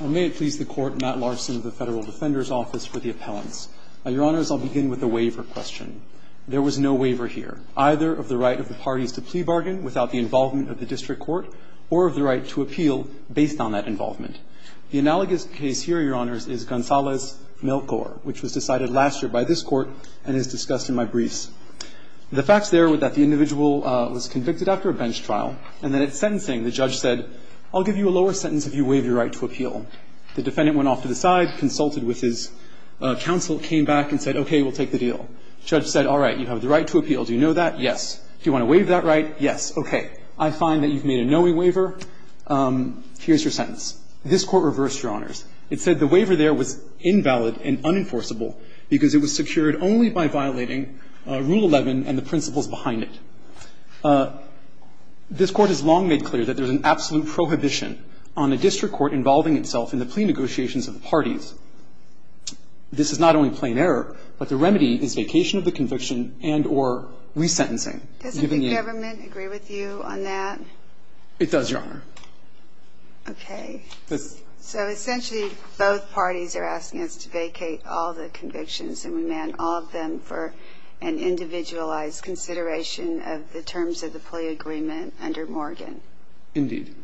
May it please the Court, Matt Larson of the Federal Defender's Office for the Appellants. Your Honors, I'll begin with the waiver question. There was no waiver here, either of the right of the parties to plea bargain without the involvement of the District Court or of the right to appeal based on that involvement. The analogous case here, Your Honors, is Gonzalez-Milkor, which was decided last year by this Court and is discussed in my briefs. The facts there were that the individual was convicted after a bench trial, and that at sentencing, the judge said, I'll give you a lower sentence if you waive your right to appeal. The defendant went off to the side, consulted with his counsel, came back and said, okay, we'll take the deal. The judge said, all right, you have the right to appeal. Do you know that? Yes. Do you want to waive that right? Yes. Okay. I find that you've made a knowing waiver. Here's your sentence. This Court reversed, Your Honors. It said the waiver there was invalid and unenforceable because it was secured only by violating Rule 11 and the principles behind it. This Court has long made clear that there's an absolute prohibition on a district court involving itself in the plea negotiations of the parties. This is not only plain error, but the remedy is vacation of the conviction and or resentencing. Doesn't the government agree with you on that? It does, Your Honor. Okay. So essentially, both parties are asking us to vacate all the convictions, and remand all of them for an individualized consideration of the terms of the plea agreement under Morgan. Indeed.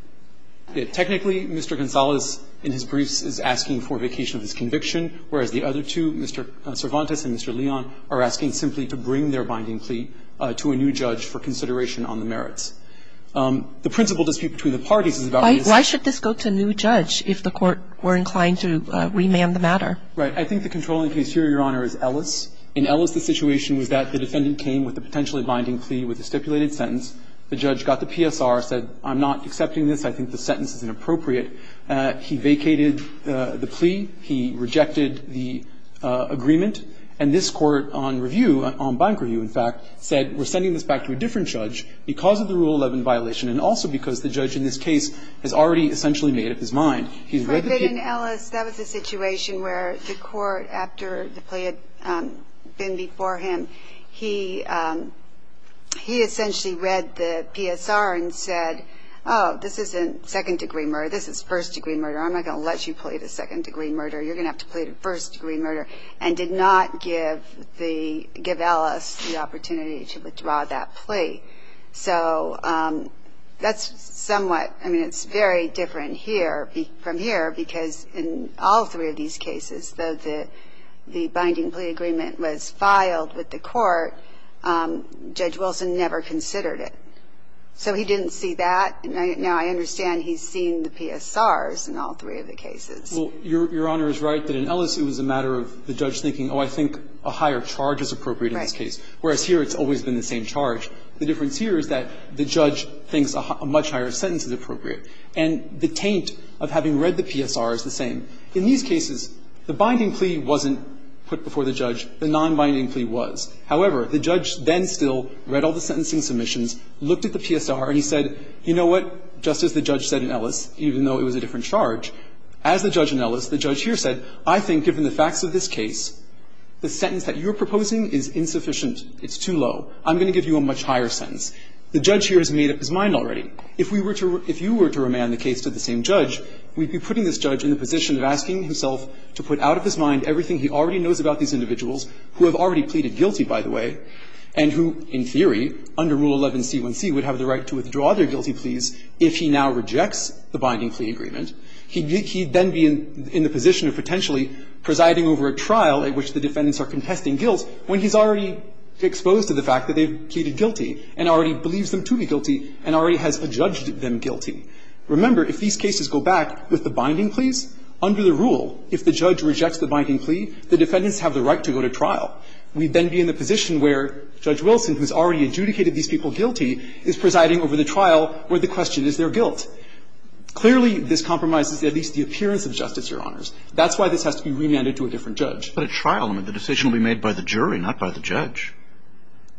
Technically, Mr. Gonzales in his briefs is asking for vacation of his conviction, whereas the other two, Mr. Cervantes and Mr. Leon, are asking simply to bring their binding plea to a new judge for consideration on the merits. The principal dispute between the parties is about this. Why should this go to a new judge if the Court were inclined to remand the matter? Right. I think the controlling case here, Your Honor, is Ellis. In Ellis, the situation was that the defendant came with a potentially binding plea with a stipulated sentence. The judge got the PSR, said, I'm not accepting this. I think the sentence is inappropriate. He vacated the plea. He rejected the agreement. And this Court on review, on bank review, in fact, said we're sending this back to a different judge because of the Rule 11 violation and also because the judge in this case has already essentially made up his mind. In Ellis, that was a situation where the Court, after the plea had been before him, he essentially read the PSR and said, oh, this isn't second-degree murder. This is first-degree murder. I'm not going to let you plead a second-degree murder. You're going to have to plead a first-degree murder, and did not give the, give Ellis the opportunity to withdraw that plea. So that's somewhat, I mean, it's very different here. From here, because in all three of these cases, though the binding plea agreement was filed with the Court, Judge Wilson never considered it. So he didn't see that. Now, I understand he's seen the PSRs in all three of the cases. Well, Your Honor is right that in Ellis it was a matter of the judge thinking, oh, I think a higher charge is appropriate in this case. Right. Whereas here it's always been the same charge. The difference here is that the judge thinks a much higher sentence is appropriate. And the taint of having read the PSR is the same. In these cases, the binding plea wasn't put before the judge. The nonbinding plea was. However, the judge then still read all the sentencing submissions, looked at the PSR, and he said, you know what, just as the judge said in Ellis, even though it was a different charge, as the judge in Ellis, the judge here said, I think given the facts of this case, the sentence that you're proposing is insufficient. It's too low. I'm going to give you a much higher sentence. The judge here has made up his mind already. If we were to – if you were to remand the case to the same judge, we'd be putting this judge in the position of asking himself to put out of his mind everything he already knows about these individuals who have already pleaded guilty, by the way, and who, in theory, under Rule 11c1c, would have the right to withdraw their guilty pleas if he now rejects the binding plea agreement. He'd then be in the position of potentially presiding over a trial at which the defendants are contesting guilt when he's already exposed to the fact that they've pleaded guilty and already believes them to be guilty and already has adjudged them guilty. Remember, if these cases go back with the binding pleas, under the rule, if the judge rejects the binding plea, the defendants have the right to go to trial. We'd then be in the position where Judge Wilson, who's already adjudicated these people guilty, is presiding over the trial where the question is their guilt. Clearly, this compromises at least the appearance of justice, Your Honors. That's why this has to be remanded to a different judge. But a trial, I mean, the decision will be made by the jury, not by the judge.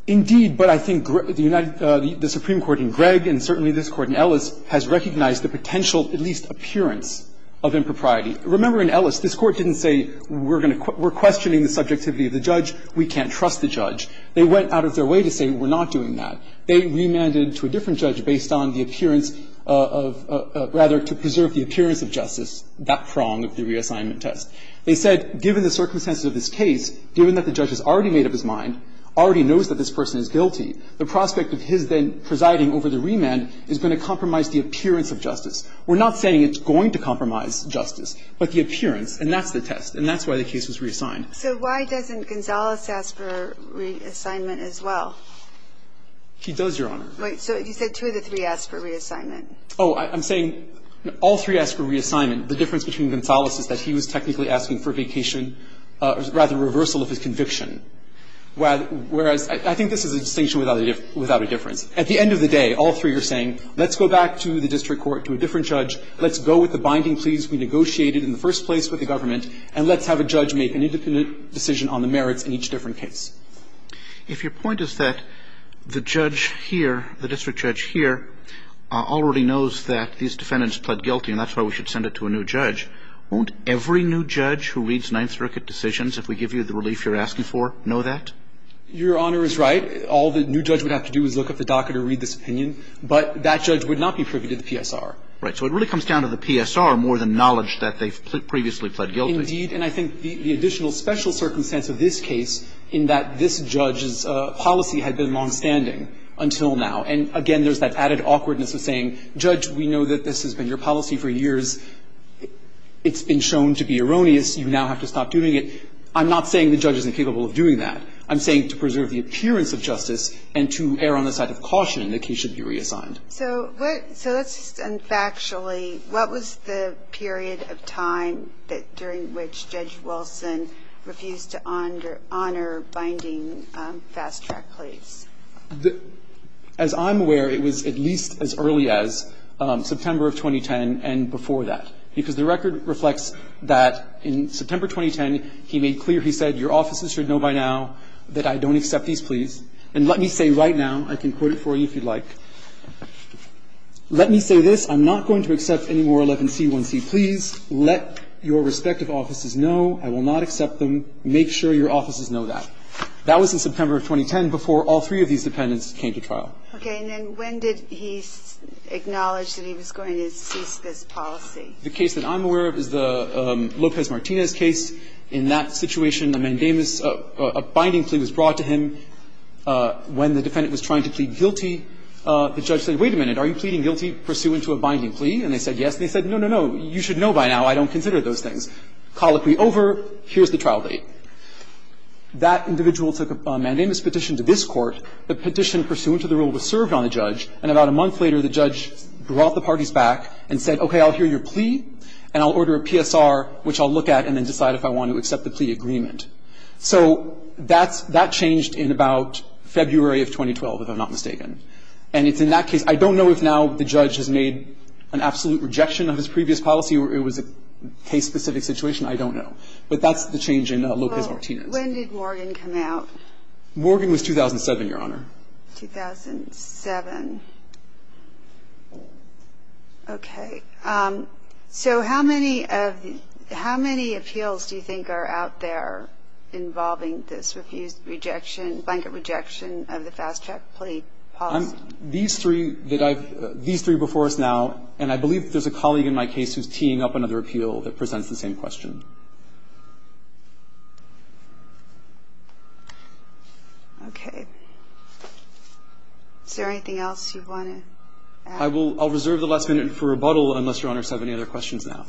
Indeed. But I think the Supreme Court in Gregg and certainly this Court in Ellis has recognized the potential, at least appearance, of impropriety. Remember, in Ellis, this Court didn't say we're questioning the subjectivity of the judge, we can't trust the judge. They went out of their way to say we're not doing that. They remanded to a different judge based on the appearance of, rather, to preserve the appearance of justice, that prong of the reassignment test. They said, given the circumstances of this case, given that the judge has already made up his mind, already knows that this person is guilty, the prospect of his then presiding over the remand is going to compromise the appearance of justice. We're not saying it's going to compromise justice, but the appearance. And that's the test. And that's why the case was reassigned. So why doesn't Gonzales ask for reassignment as well? He does, Your Honor. Wait. So you said two of the three asked for reassignment. Oh, I'm saying all three asked for reassignment. The difference between Gonzales is that he was technically asking for vacation or, rather, reversal of his conviction, whereas I think this is a distinction without a difference. At the end of the day, all three are saying, let's go back to the district court, to a different judge. Let's go with the binding pleas we negotiated in the first place with the government, and let's have a judge make an independent decision on the merits in each different case. If your point is that the judge here, the district judge here, already knows that these defendants pled guilty and that's why we should send it to a new judge, won't every new judge who reads Ninth Circuit decisions, if we give you the relief you're asking for, know that? Your Honor is right. All the new judge would have to do is look up the docket or read this opinion. But that judge would not be privy to the PSR. Right. So it really comes down to the PSR more than knowledge that they've previously pled guilty. Indeed. And I think the additional special circumstance of this case in that this judge's policy had been longstanding until now. And, again, there's that added awkwardness of saying, Judge, we know that this has been your policy for years. It's been shown to be erroneous. You now have to stop doing it. I'm not saying the judge isn't capable of doing that. I'm saying to preserve the appearance of justice and to err on the side of caution that the case should be reassigned. So what – so let's just – and factually, what was the period of time during which Judge Wilson refused to honor binding fast-track pleas? As I'm aware, it was at least as early as September of 2010 and before that, because the record reflects that in September 2010, he made clear, he said, your offices should know by now that I don't accept these pleas. And let me say right now, I can quote it for you if you'd like. Let me say this. I'm not going to accept any more 11c1c. Please let your respective offices know. I will not accept them. Make sure your offices know that. That was in September of 2010 before all three of these defendants came to trial. Okay. And then when did he acknowledge that he was going to cease this policy? The case that I'm aware of is the Lopez-Martinez case. In that situation, a mandamus, a binding plea was brought to him when the defendant was trying to plead guilty. The judge said, wait a minute. Are you pleading guilty pursuant to a binding plea? And they said yes. And they said, no, no, no. You should know by now I don't consider those things. Colloquy over. Here's the trial date. That individual took a mandamus petition to this court. The petition pursuant to the rule was served on the judge. And about a month later, the judge brought the parties back and said, okay, I'll hear your plea, and I'll order a PSR, which I'll look at and then decide if I want to accept the plea agreement. So that changed in about February of 2012, if I'm not mistaken. And it's in that case. I don't know if now the judge has made an absolute rejection of his previous policy or it was a case-specific situation. I don't know. But that's the change in Lopez-Martinez. When did Morgan come out? Morgan was 2007, Your Honor. 2007. Okay. So how many of the – how many appeals do you think are out there involving this refused rejection, blanket rejection of the fast-track plea policy? These three that I've – these three before us now, and I believe there's a colleague in my case who's teeing up another appeal that presents the same question. Okay. Is there anything else you want to add? I will – I'll reserve the last minute for rebuttal unless Your Honors have any other questions now.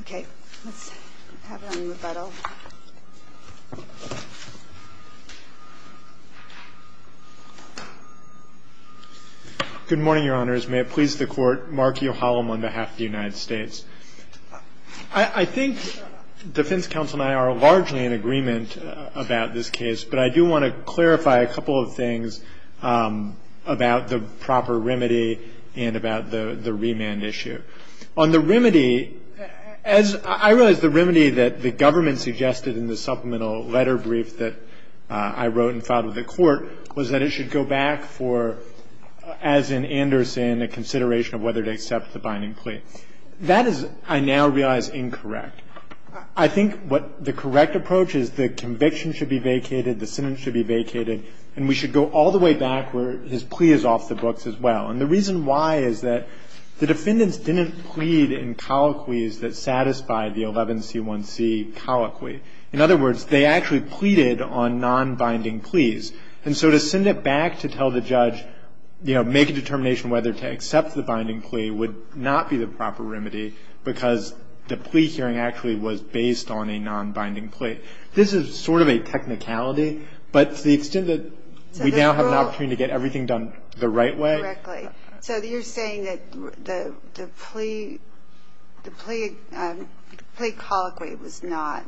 Okay. Let's have a rebuttal. Good morning, Your Honors. May it please the Court, Mark Uhallam on behalf of the United States. I think defense counsel and I are largely in agreement about this case, but I do want to clarify a couple of things about the proper remedy and about the remand issue. On the remedy, as – I realize the remedy that the government suggested in the supplemental letter brief that I wrote and filed with the Court was that it should go back for, as in Anderson, a consideration of whether to accept the binding plea. That is, I now realize, incorrect. I think what the correct approach is the conviction should be vacated, the sentence should be vacated, and we should go all the way back where his plea is off the books as well. And the reason why is that the defendants didn't plead in colloquies that satisfied the 11c1c colloquy. In other words, they actually pleaded on nonbinding pleas. And so to send it back to tell the judge, you know, make a determination whether to accept the binding plea would not be the proper remedy because the plea hearing actually was based on a nonbinding plea. This is sort of a technicality, but to the extent that we now have an opportunity to get everything done the right way. Correctly. So you're saying that the plea colloquy was not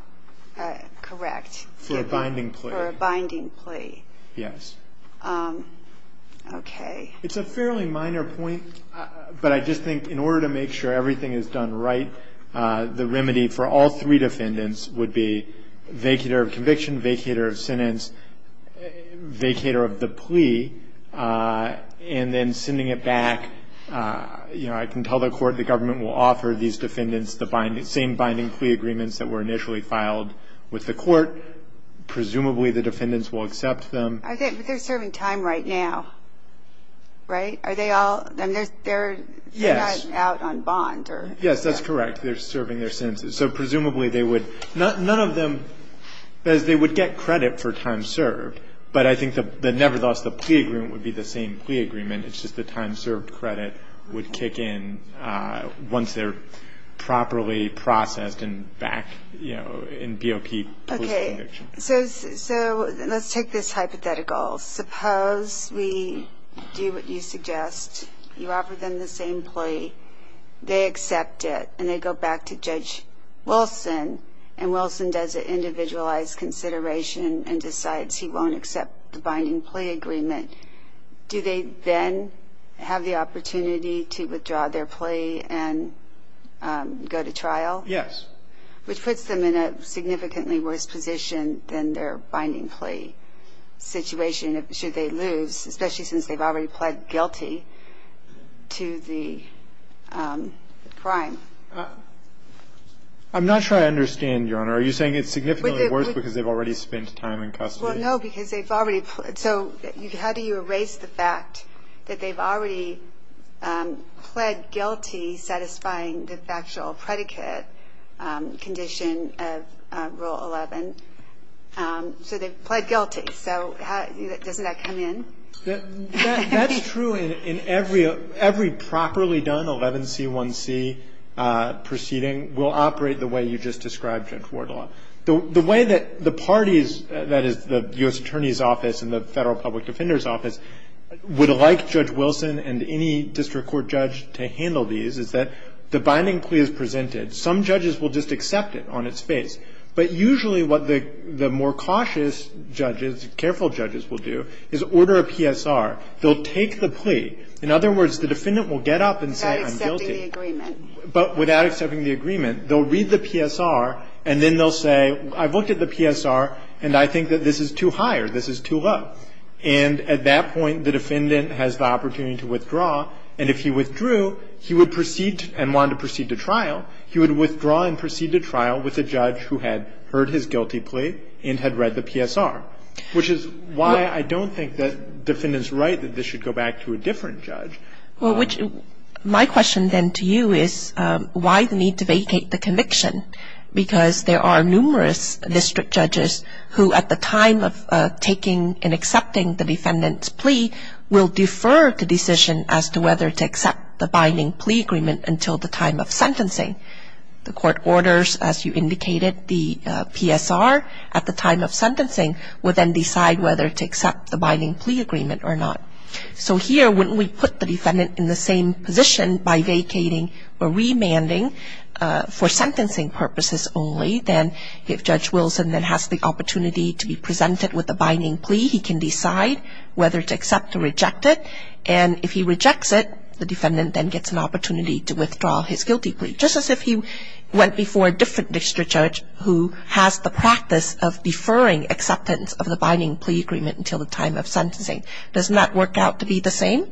correct. For a binding plea. For a binding plea. Yes. Okay. It's a fairly minor point, but I just think in order to make sure everything is done right, the remedy for all three defendants would be vacator of conviction, vacator of sentence, vacator of the plea, and then sending it back. You know, I can tell the court the government will offer these defendants the same binding plea agreements that were initially filed with the court. Presumably the defendants will accept them. But they're serving time right now. Right? Are they all? They're not out on bond. Yes, that's correct. They're serving their sentences. So presumably they would, none of them, they would get credit for time served, but I think the nevertheless the plea agreement would be the same plea agreement. It's just the time served credit would kick in once they're properly processed and back, you know, in BOP post conviction. So let's take this hypothetical. Suppose we do what you suggest. You offer them the same plea. They accept it, and they go back to Judge Wilson, and Wilson does an individualized consideration and decides he won't accept the binding plea agreement. Do they then have the opportunity to withdraw their plea and go to trial? Yes. Well, I think we have the case in which the defendant's case is a case of the defendant not having a binding plea agreement, which puts them in a significantly worse position than their binding plea situation should they lose, especially since they've already pled guilty to the crime. I'm not sure I understand, Your Honor. Are you saying it's significantly worse because they've already spent time in custody? Well, no, because they've already pled. So how do you erase the fact that they've already pled guilty, satisfying the factual predicate condition of Rule 11? So they've pled guilty. So doesn't that come in? That's true in every properly done 11C1C proceeding will operate the way you just described, Judge Wardlaw. The way that the parties, that is, the U.S. Attorney's Office and the Federal Public Defender's Office, would like Judge Wilson and any district court judge to handle these is that the binding plea is presented. Some judges will just accept it on its face. But usually what the more cautious judges, careful judges will do is order a PSR. They'll take the plea. In other words, the defendant will get up and say I'm guilty. Without accepting the agreement. But without accepting the agreement, they'll read the PSR and then they'll say I've looked at the PSR and I think that this is too high or this is too low. And at that point, the defendant has the opportunity to withdraw. And if he withdrew, he would proceed and wanted to proceed to trial. He would withdraw and proceed to trial with a judge who had heard his guilty plea and had read the PSR, which is why I don't think that the defendant's right that this should go back to a different judge. Well, my question then to you is why the need to vacate the conviction? Because there are numerous district judges who at the time of taking and accepting the defendant's plea will defer the decision as to whether to accept the binding plea agreement until the time of sentencing. The court orders, as you indicated, the PSR at the time of sentencing will then decide whether to accept the binding plea agreement or not. So here, when we put the defendant in the same position by vacating or remanding for sentencing purposes only, then if Judge Wilson then has the opportunity to be presented with a binding plea, he can decide whether to accept or reject it. And if he rejects it, the defendant then gets an opportunity to withdraw his guilty plea, just as if he went before a different district judge who has the practice of deferring acceptance of the binding plea agreement until the time of sentencing. Doesn't that work out to be the same?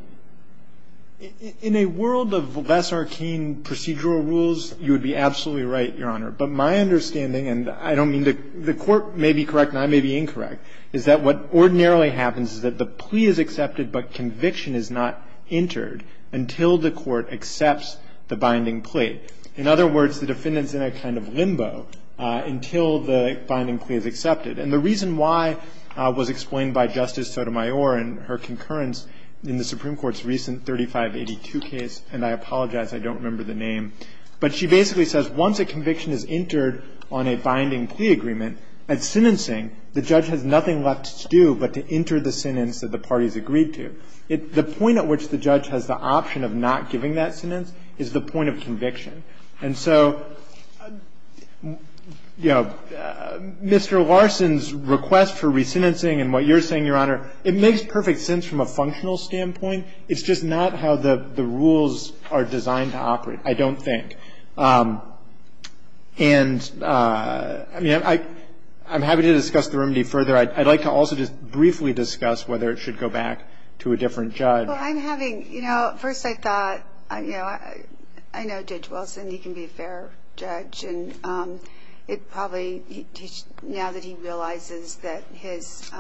In a world of less arcane procedural rules, you would be absolutely right, Your Honor. But my understanding, and I don't mean to – the court may be correct and I may be incorrect, is that what ordinarily happens is that the plea is accepted but conviction is not entered until the court accepts the binding plea. In other words, the defendant's in a kind of limbo until the binding plea is accepted. And the reason why was explained by Justice Sotomayor in her concurrence in the Supreme Court's recent 3582 case, and I apologize, I don't remember the name. But she basically says once a conviction is entered on a binding plea agreement, at sentencing, the judge has nothing left to do but to enter the sentence that the parties agreed to. The point at which the judge has the option of not giving that sentence is the point of conviction. And so, you know, Mr. Larson's request for resentencing and what you're saying, Your Honor, it makes perfect sense from a functional standpoint. It's just not how the rules are designed to operate, I don't think. And, I mean, I'm happy to discuss the remedy further. I'd like to also just briefly discuss whether it should go back to a different judge. Well, I'm having, you know, at first I thought, you know, I know Judge Wilson. He can be a fair judge. And it probably, now that he realizes that this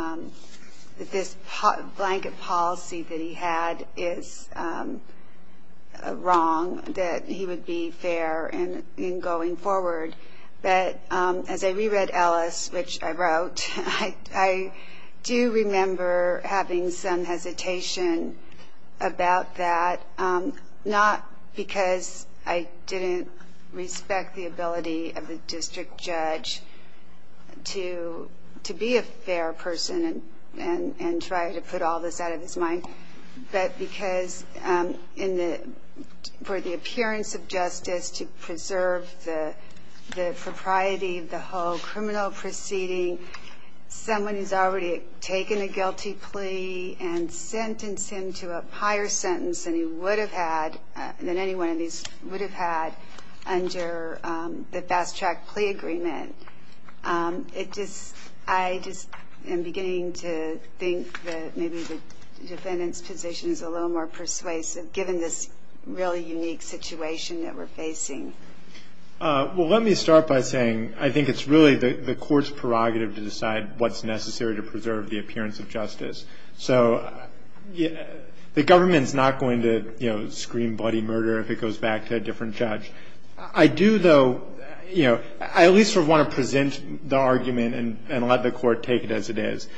blanket policy that he had is wrong, that he would be fair in going forward. But as I reread Ellis, which I wrote, I do remember having some hesitation about that, not because I didn't respect the ability of the district judge to be a fair person and try to put all this out of his mind, but because for the appearance of justice to preserve the propriety of the whole criminal proceeding, someone who's already taken a guilty plea and sentenced him to a higher sentence than he would have had, than any one of these would have had, under the fast track plea agreement. It just, I just am beginning to think that maybe the defendant's position is a little more persuasive, given this really unique situation that we're facing. Well, let me start by saying I think it's really the court's prerogative to decide what's necessary to preserve the appearance of justice. So the government's not going to, you know, scream bloody murder if it goes back to a different judge. I do, though, you know, I at least sort of want to present the argument and let the court take it as it is.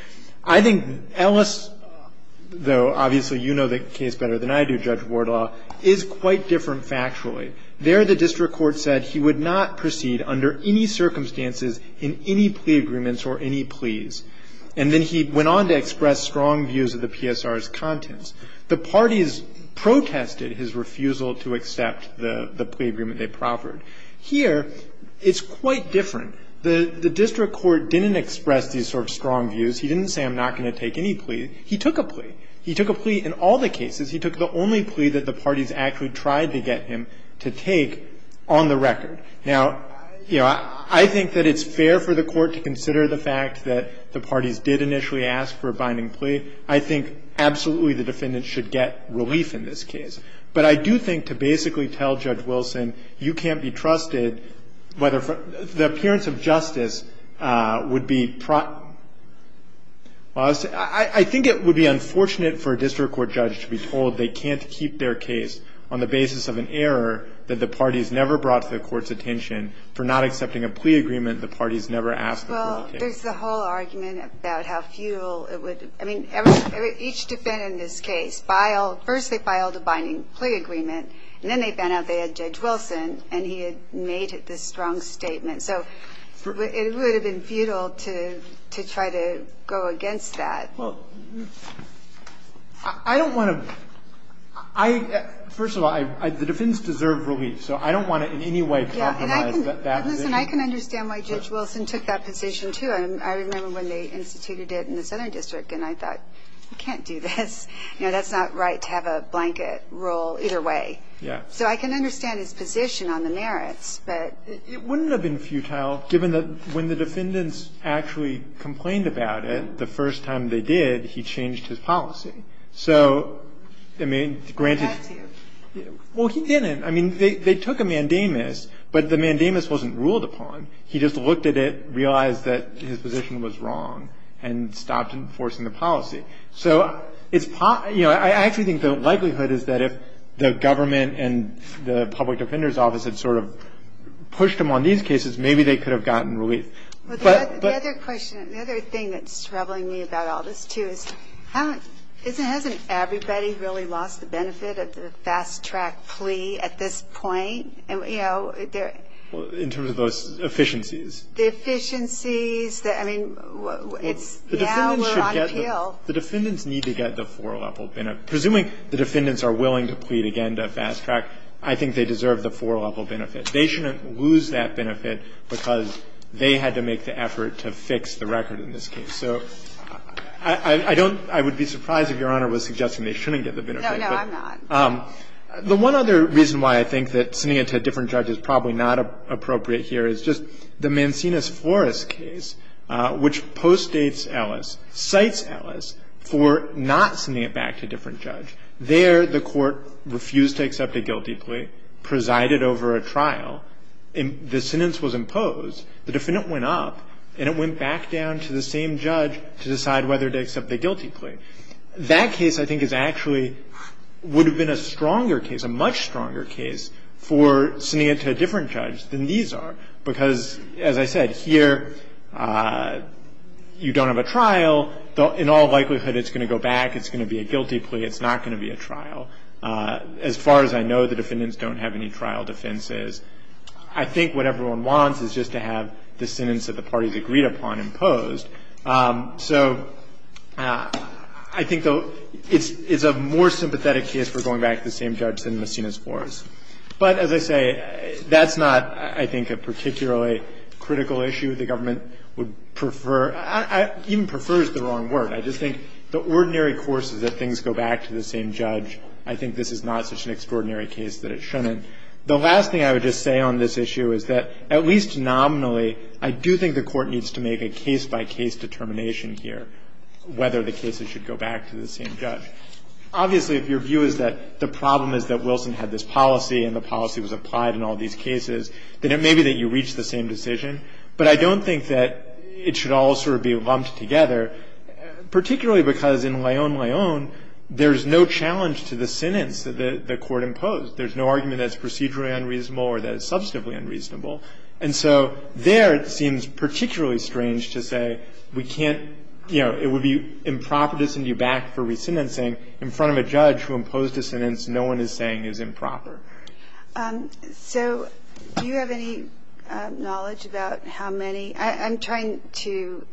I think Ellis, though obviously you know the case better than I do, Judge Wardlaw, is quite different factually. There the district court said he would not proceed under any circumstances in any plea agreements or any pleas. And then he went on to express strong views of the PSR's contents. The parties protested his refusal to accept the plea agreement they proffered. Here it's quite different. The district court didn't express these sort of strong views. He didn't say I'm not going to take any plea. He took a plea. He took a plea in all the cases. He took the only plea that the parties actually tried to get him to take on the record. Now, you know, I think that it's fair for the court to consider the fact that the parties did initially ask for a binding plea. I think absolutely the defendants should get relief in this case. But I do think to basically tell Judge Wilson you can't be trusted whether the appearance of justice would be � I think it would be unfortunate for a district court judge to be told they can't keep their case on the basis of an error that the parties never brought to the court's attention for not accepting a plea agreement the parties never asked for. Well, there's the whole argument about how futile it would be. I mean, each defendant in this case, first they filed a binding plea agreement, and then they found out they had Judge Wilson, and he had made this strong statement. So it would have been futile to have a binding plea agreement. I think it would be unfortunate for a district court judge to be told they can't keep their case on the basis of an error that the parties never brought to the court's attention for not accepting a plea agreement the parties never asked for. Well, there's the whole argument about how futile it would be. I mean, each defendant in this case, first they filed a binding plea agreement, and then they found out they had Judge Wilson, and he had made this strong statement. So it would have been futile to try to go against that. Well, I don't want to � I � first of all, the defendants deserve relief, so I don't want to in any way compromise that position. Yeah, and I can understand why Judge Wilson took that position, too. I remember when they instituted it in the Southern District, and I thought, you can't do this. You know, that's not right to have a blanket rule either way. Yeah. So I can understand his position on the merits, but� It wouldn't have been futile, given that when the defendants actually complained about it, the first time they did, he changed his policy. So I don't want to compromise that position. So I don't want to compromise that position. So I don't want to compromise that position. I mean, granted� He had to. Well, he didn't. I mean, they took a mandamus, but the mandamus wasn't ruled upon. He just looked at it, realized that his position was wrong, and stopped enforcing the policy. So, you know, I actually think the likelihood is that if the government and the public defender's office had sort of pushed him on these cases, maybe they could have gotten relief. Well, the other question, the other thing that's troubling me about all this, too, is hasn't everybody really lost the benefit of the fast-track plea at this point? You know, they're� Well, in terms of those efficiencies. The efficiencies that, I mean, it's� The defendants should get the� Yeah, we're on appeal. The defendants need to get the four-level benefit. Presuming the defendants are willing to plead again to fast-track, I think they deserve the four-level benefit. They shouldn't lose that benefit because they had to make the effort to fix the record in this case. So I don't � I would be surprised if Your Honor was suggesting they shouldn't get the benefit, but� No, no, I'm not. The one other reason why I think that sending it to a different judge is probably not appropriate here is just the Mancinas-Flores case, which postdates Ellis, cites Ellis for not sending it back to a different judge. There, the court refused to accept a guilty plea, presided over a trial. The sentence was imposed. The defendant went up, and it went back down to the same judge to decide whether to accept the guilty plea, and the judge said no. They don't mind it. That case, I think, is actually would have been a stronger case, a much stronger case, for sending it to a different judge than these are. Because, as I said, here you don't have a trial. In all likelihood, it's going to go back. It's going to be a guilty plea. It's not going to be a trial. As far as I know, the defendants don't have any trial defenses. I think what everyone wants is just to have the sentence that the parties agreed upon imposed. So I think, though, it's a more sympathetic case for going back to the same judge than Messina's force. But, as I say, that's not, I think, a particularly critical issue. The government would prefer – even prefers the wrong word. I just think the ordinary course is that things go back to the same judge. I think this is not such an extraordinary case that it shouldn't. The last thing I would just say on this issue is that, at least nominally, I do think the court needs to make a case-by-case determination here, whether the cases should go back to the same judge. Obviously, if your view is that the problem is that Wilson had this policy and the policy was applied in all these cases, then it may be that you reach the same decision. But I don't think that it should all sort of be lumped together, particularly because in Leon-Leon, there's no challenge to the sentence that the court imposed. There's no argument that it's procedurally unreasonable or that it's substantively unreasonable. And so there, it seems particularly strange to say we can't – it would be improper to send you back for re-sentencing in front of a judge who imposed a sentence no one is saying is improper. So do you have any knowledge about how many – I'm trying to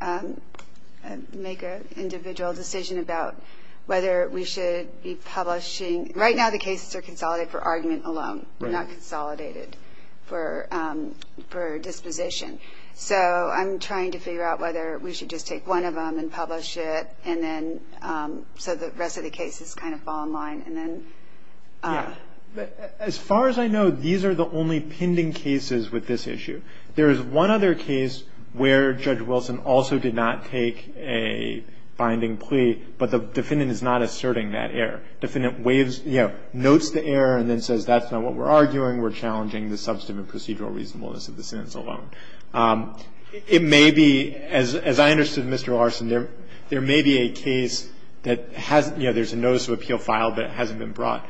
make an individual decision about whether we should be publishing – right now, the cases are consolidated for argument alone, not consolidated for disposition. So I'm trying to figure out whether we should just take one of them and publish it, and then so the rest of the cases kind of fall in line, and then – Yeah. As far as I know, these are the only pending cases with this issue. There is one other case where Judge Wilson also did not take a binding plea, but the defendant is not asserting that error. Defendant waves – notes the error and then says that's not what we're arguing. We're challenging the substantive and procedural reasonableness of the sentence alone. It may be – as I understood, Mr. Larson, there may be a case that has – there's a notice of appeal filed, but it hasn't been brought.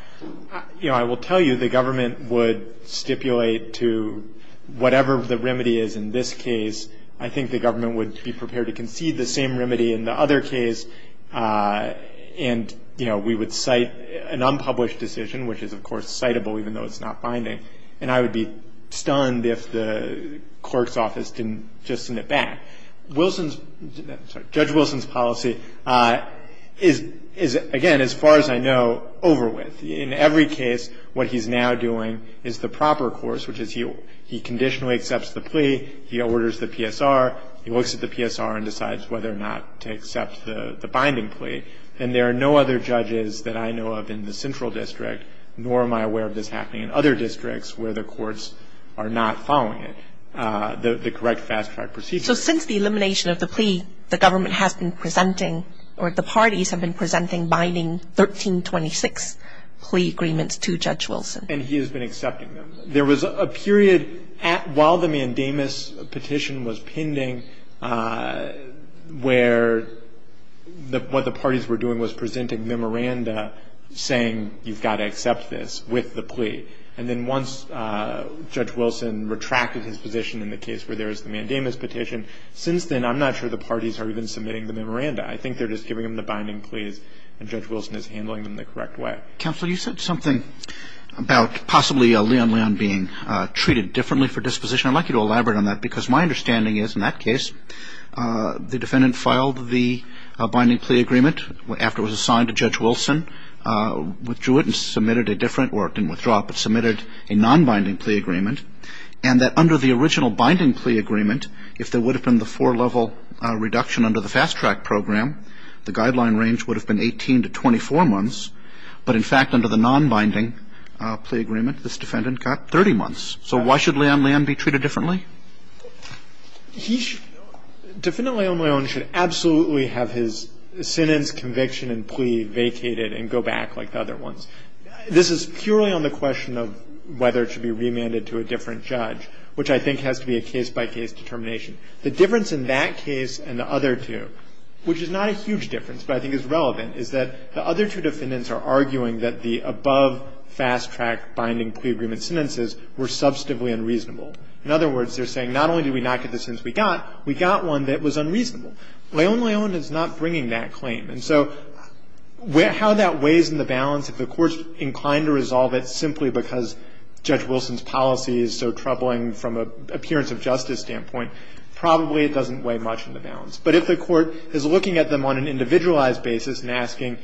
I will tell you the government would stipulate to whatever the remedy is in this case, I think the government would be prepared to concede the same remedy in the other case. And, you know, we would cite an unpublished decision, which is, of course, citable even though it's not binding. And I would be stunned if the court's office didn't just send it back. Wilson's – sorry. Judge Wilson's policy is, again, as far as I know, over with. In every case, what he's now doing is the proper course, which is he conditionally accepts the plea, he orders the PSR, he looks at the PSR and decides whether or not to accept the binding plea. And there are no other judges that I know of in the central district, nor am I aware of this happening in other districts where the courts are not following it, the correct fast-track procedure. So since the elimination of the plea, the government has been presenting – or the parties have been presenting binding 1326 plea agreements to Judge Wilson. And he has been accepting them. There was a period at – while the mandamus petition was pending where the – what the parties were doing was presenting memoranda saying you've got to accept this with the plea. And then once Judge Wilson retracted his position in the case where there is the mandamus petition, since then I'm not sure the parties are even submitting the memoranda. I think they're just giving him the binding pleas and Judge Wilson is handling them the correct way. Counsel, you said something about possibly Leon Leon being treated differently for disposition. I'd like you to elaborate on that because my understanding is in that case the defendant filed the binding plea agreement after it was assigned to Judge Wilson, withdrew it and submitted a different – or it didn't withdraw, but submitted a non-binding plea agreement, and that under the original binding plea agreement, if there would have been the four-level reduction under the fast-track program, the guideline range would have been three months. In fact, under the non-binding plea agreement, this defendant got 30 months. So why should Leon Leon be treated differently? He should – Defendant Leon Leon should absolutely have his sentence, conviction and plea vacated and go back like the other ones. This is purely on the question of whether it should be remanded to a different judge, which I think has to be a case-by-case determination. The difference in that case and the other two, which is not a huge difference but I think is relevant, is that the other two defendants are arguing that the above fast-track binding plea agreement sentences were substantively unreasonable. In other words, they're saying not only did we not get the sentence we got, we got one that was unreasonable. Leon Leon is not bringing that claim. And so how that weighs in the balance, if the Court's inclined to resolve it simply because Judge Wilson's policy is so troubling from an appearance of justice standpoint, probably it doesn't weigh much in the balance. But if the Court is looking at them on an individualized basis and asking,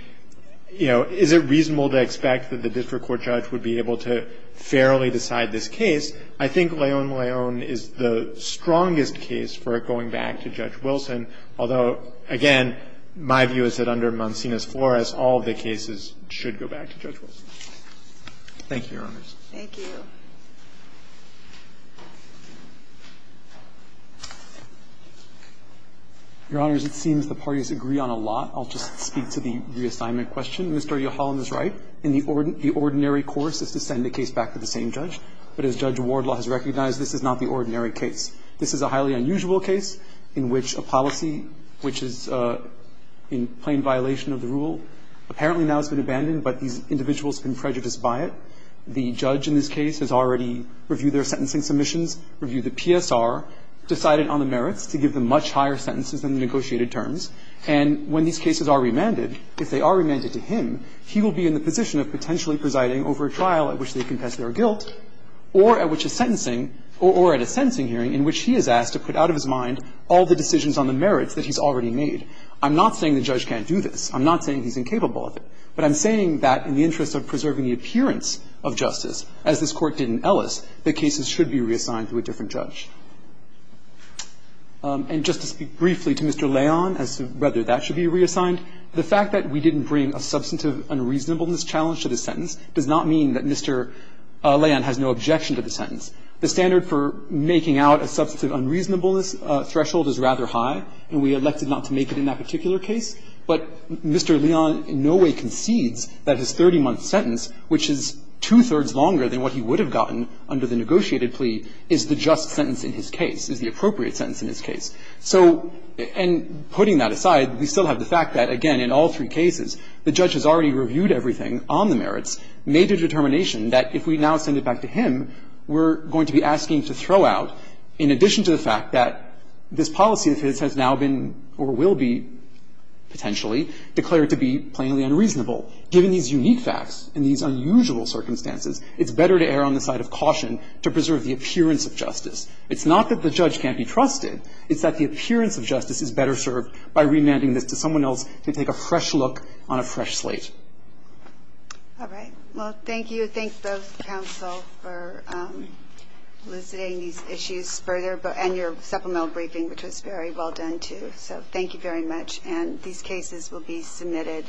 you know, is it reasonable to expect that the district court judge would be able to fairly decide this case, I think Leon Leon is the strongest case for it going back to Judge Wilson, although, again, my view is that under Mancinas-Flores, all of the cases should go back to Judge Wilson. Thank you, Your Honors. Thank you. Gershengorn Your Honors, it seems the parties agree on a lot. I'll just speak to the reassignment question. Mr. O'Halloran is right. The ordinary course is to send the case back to the same judge. But as Judge Wardlaw has recognized, this is not the ordinary case. This is a highly unusual case in which a policy which is in plain violation of the rule, apparently now has been abandoned, but these individuals have been prejudiced by it. The judge in this case has already reviewed their sentencing submissions, reviewed the PSR, decided on the merits to give them much higher sentences than the negotiated terms, and when these cases are remanded, if they are remanded to him, he will be in the position of potentially presiding over a trial at which they confess their guilt or at a sentencing hearing in which he is asked to put out of his mind all the decisions on the merits that he's already made. I'm not saying the judge can't do this. I'm not saying he's incapable of it. But I'm saying that in the interest of preserving the appearance of justice, as this Court did in Ellis, that cases should be reassigned to a different judge. And just to speak briefly to Mr. Leon as to whether that should be reassigned, the fact that we didn't bring a substantive unreasonableness challenge to the sentence does not mean that Mr. Leon has no objection to the sentence. The standard for making out a substantive unreasonableness threshold is rather high, and we elected not to make it in that particular case. But Mr. Leon in no way concedes that his 30-month sentence, which is two-thirds longer than what he would have gotten under the negotiated plea, is the just sentence in his case, is the appropriate sentence in his case. So, and putting that aside, we still have the fact that, again, in all three cases, the judge has already reviewed everything on the merits, made a determination that if we now send it back to him, we're going to be asking to throw out, in addition to the fact that this policy of his has now been or will be potentially declared to be plainly unreasonable. Given these unique facts and these unusual circumstances, it's better to err on the side of caution to preserve the appearance of justice. It's not that the judge can't be trusted. It's that the appearance of justice is better served by remanding this to someone else to take a fresh look on a fresh slate. All right. Well, thank you. Thanks, both counsel, for elucidating these issues further and your supplemental briefing, which was very well done, too. So thank you very much. And these cases will be submitted.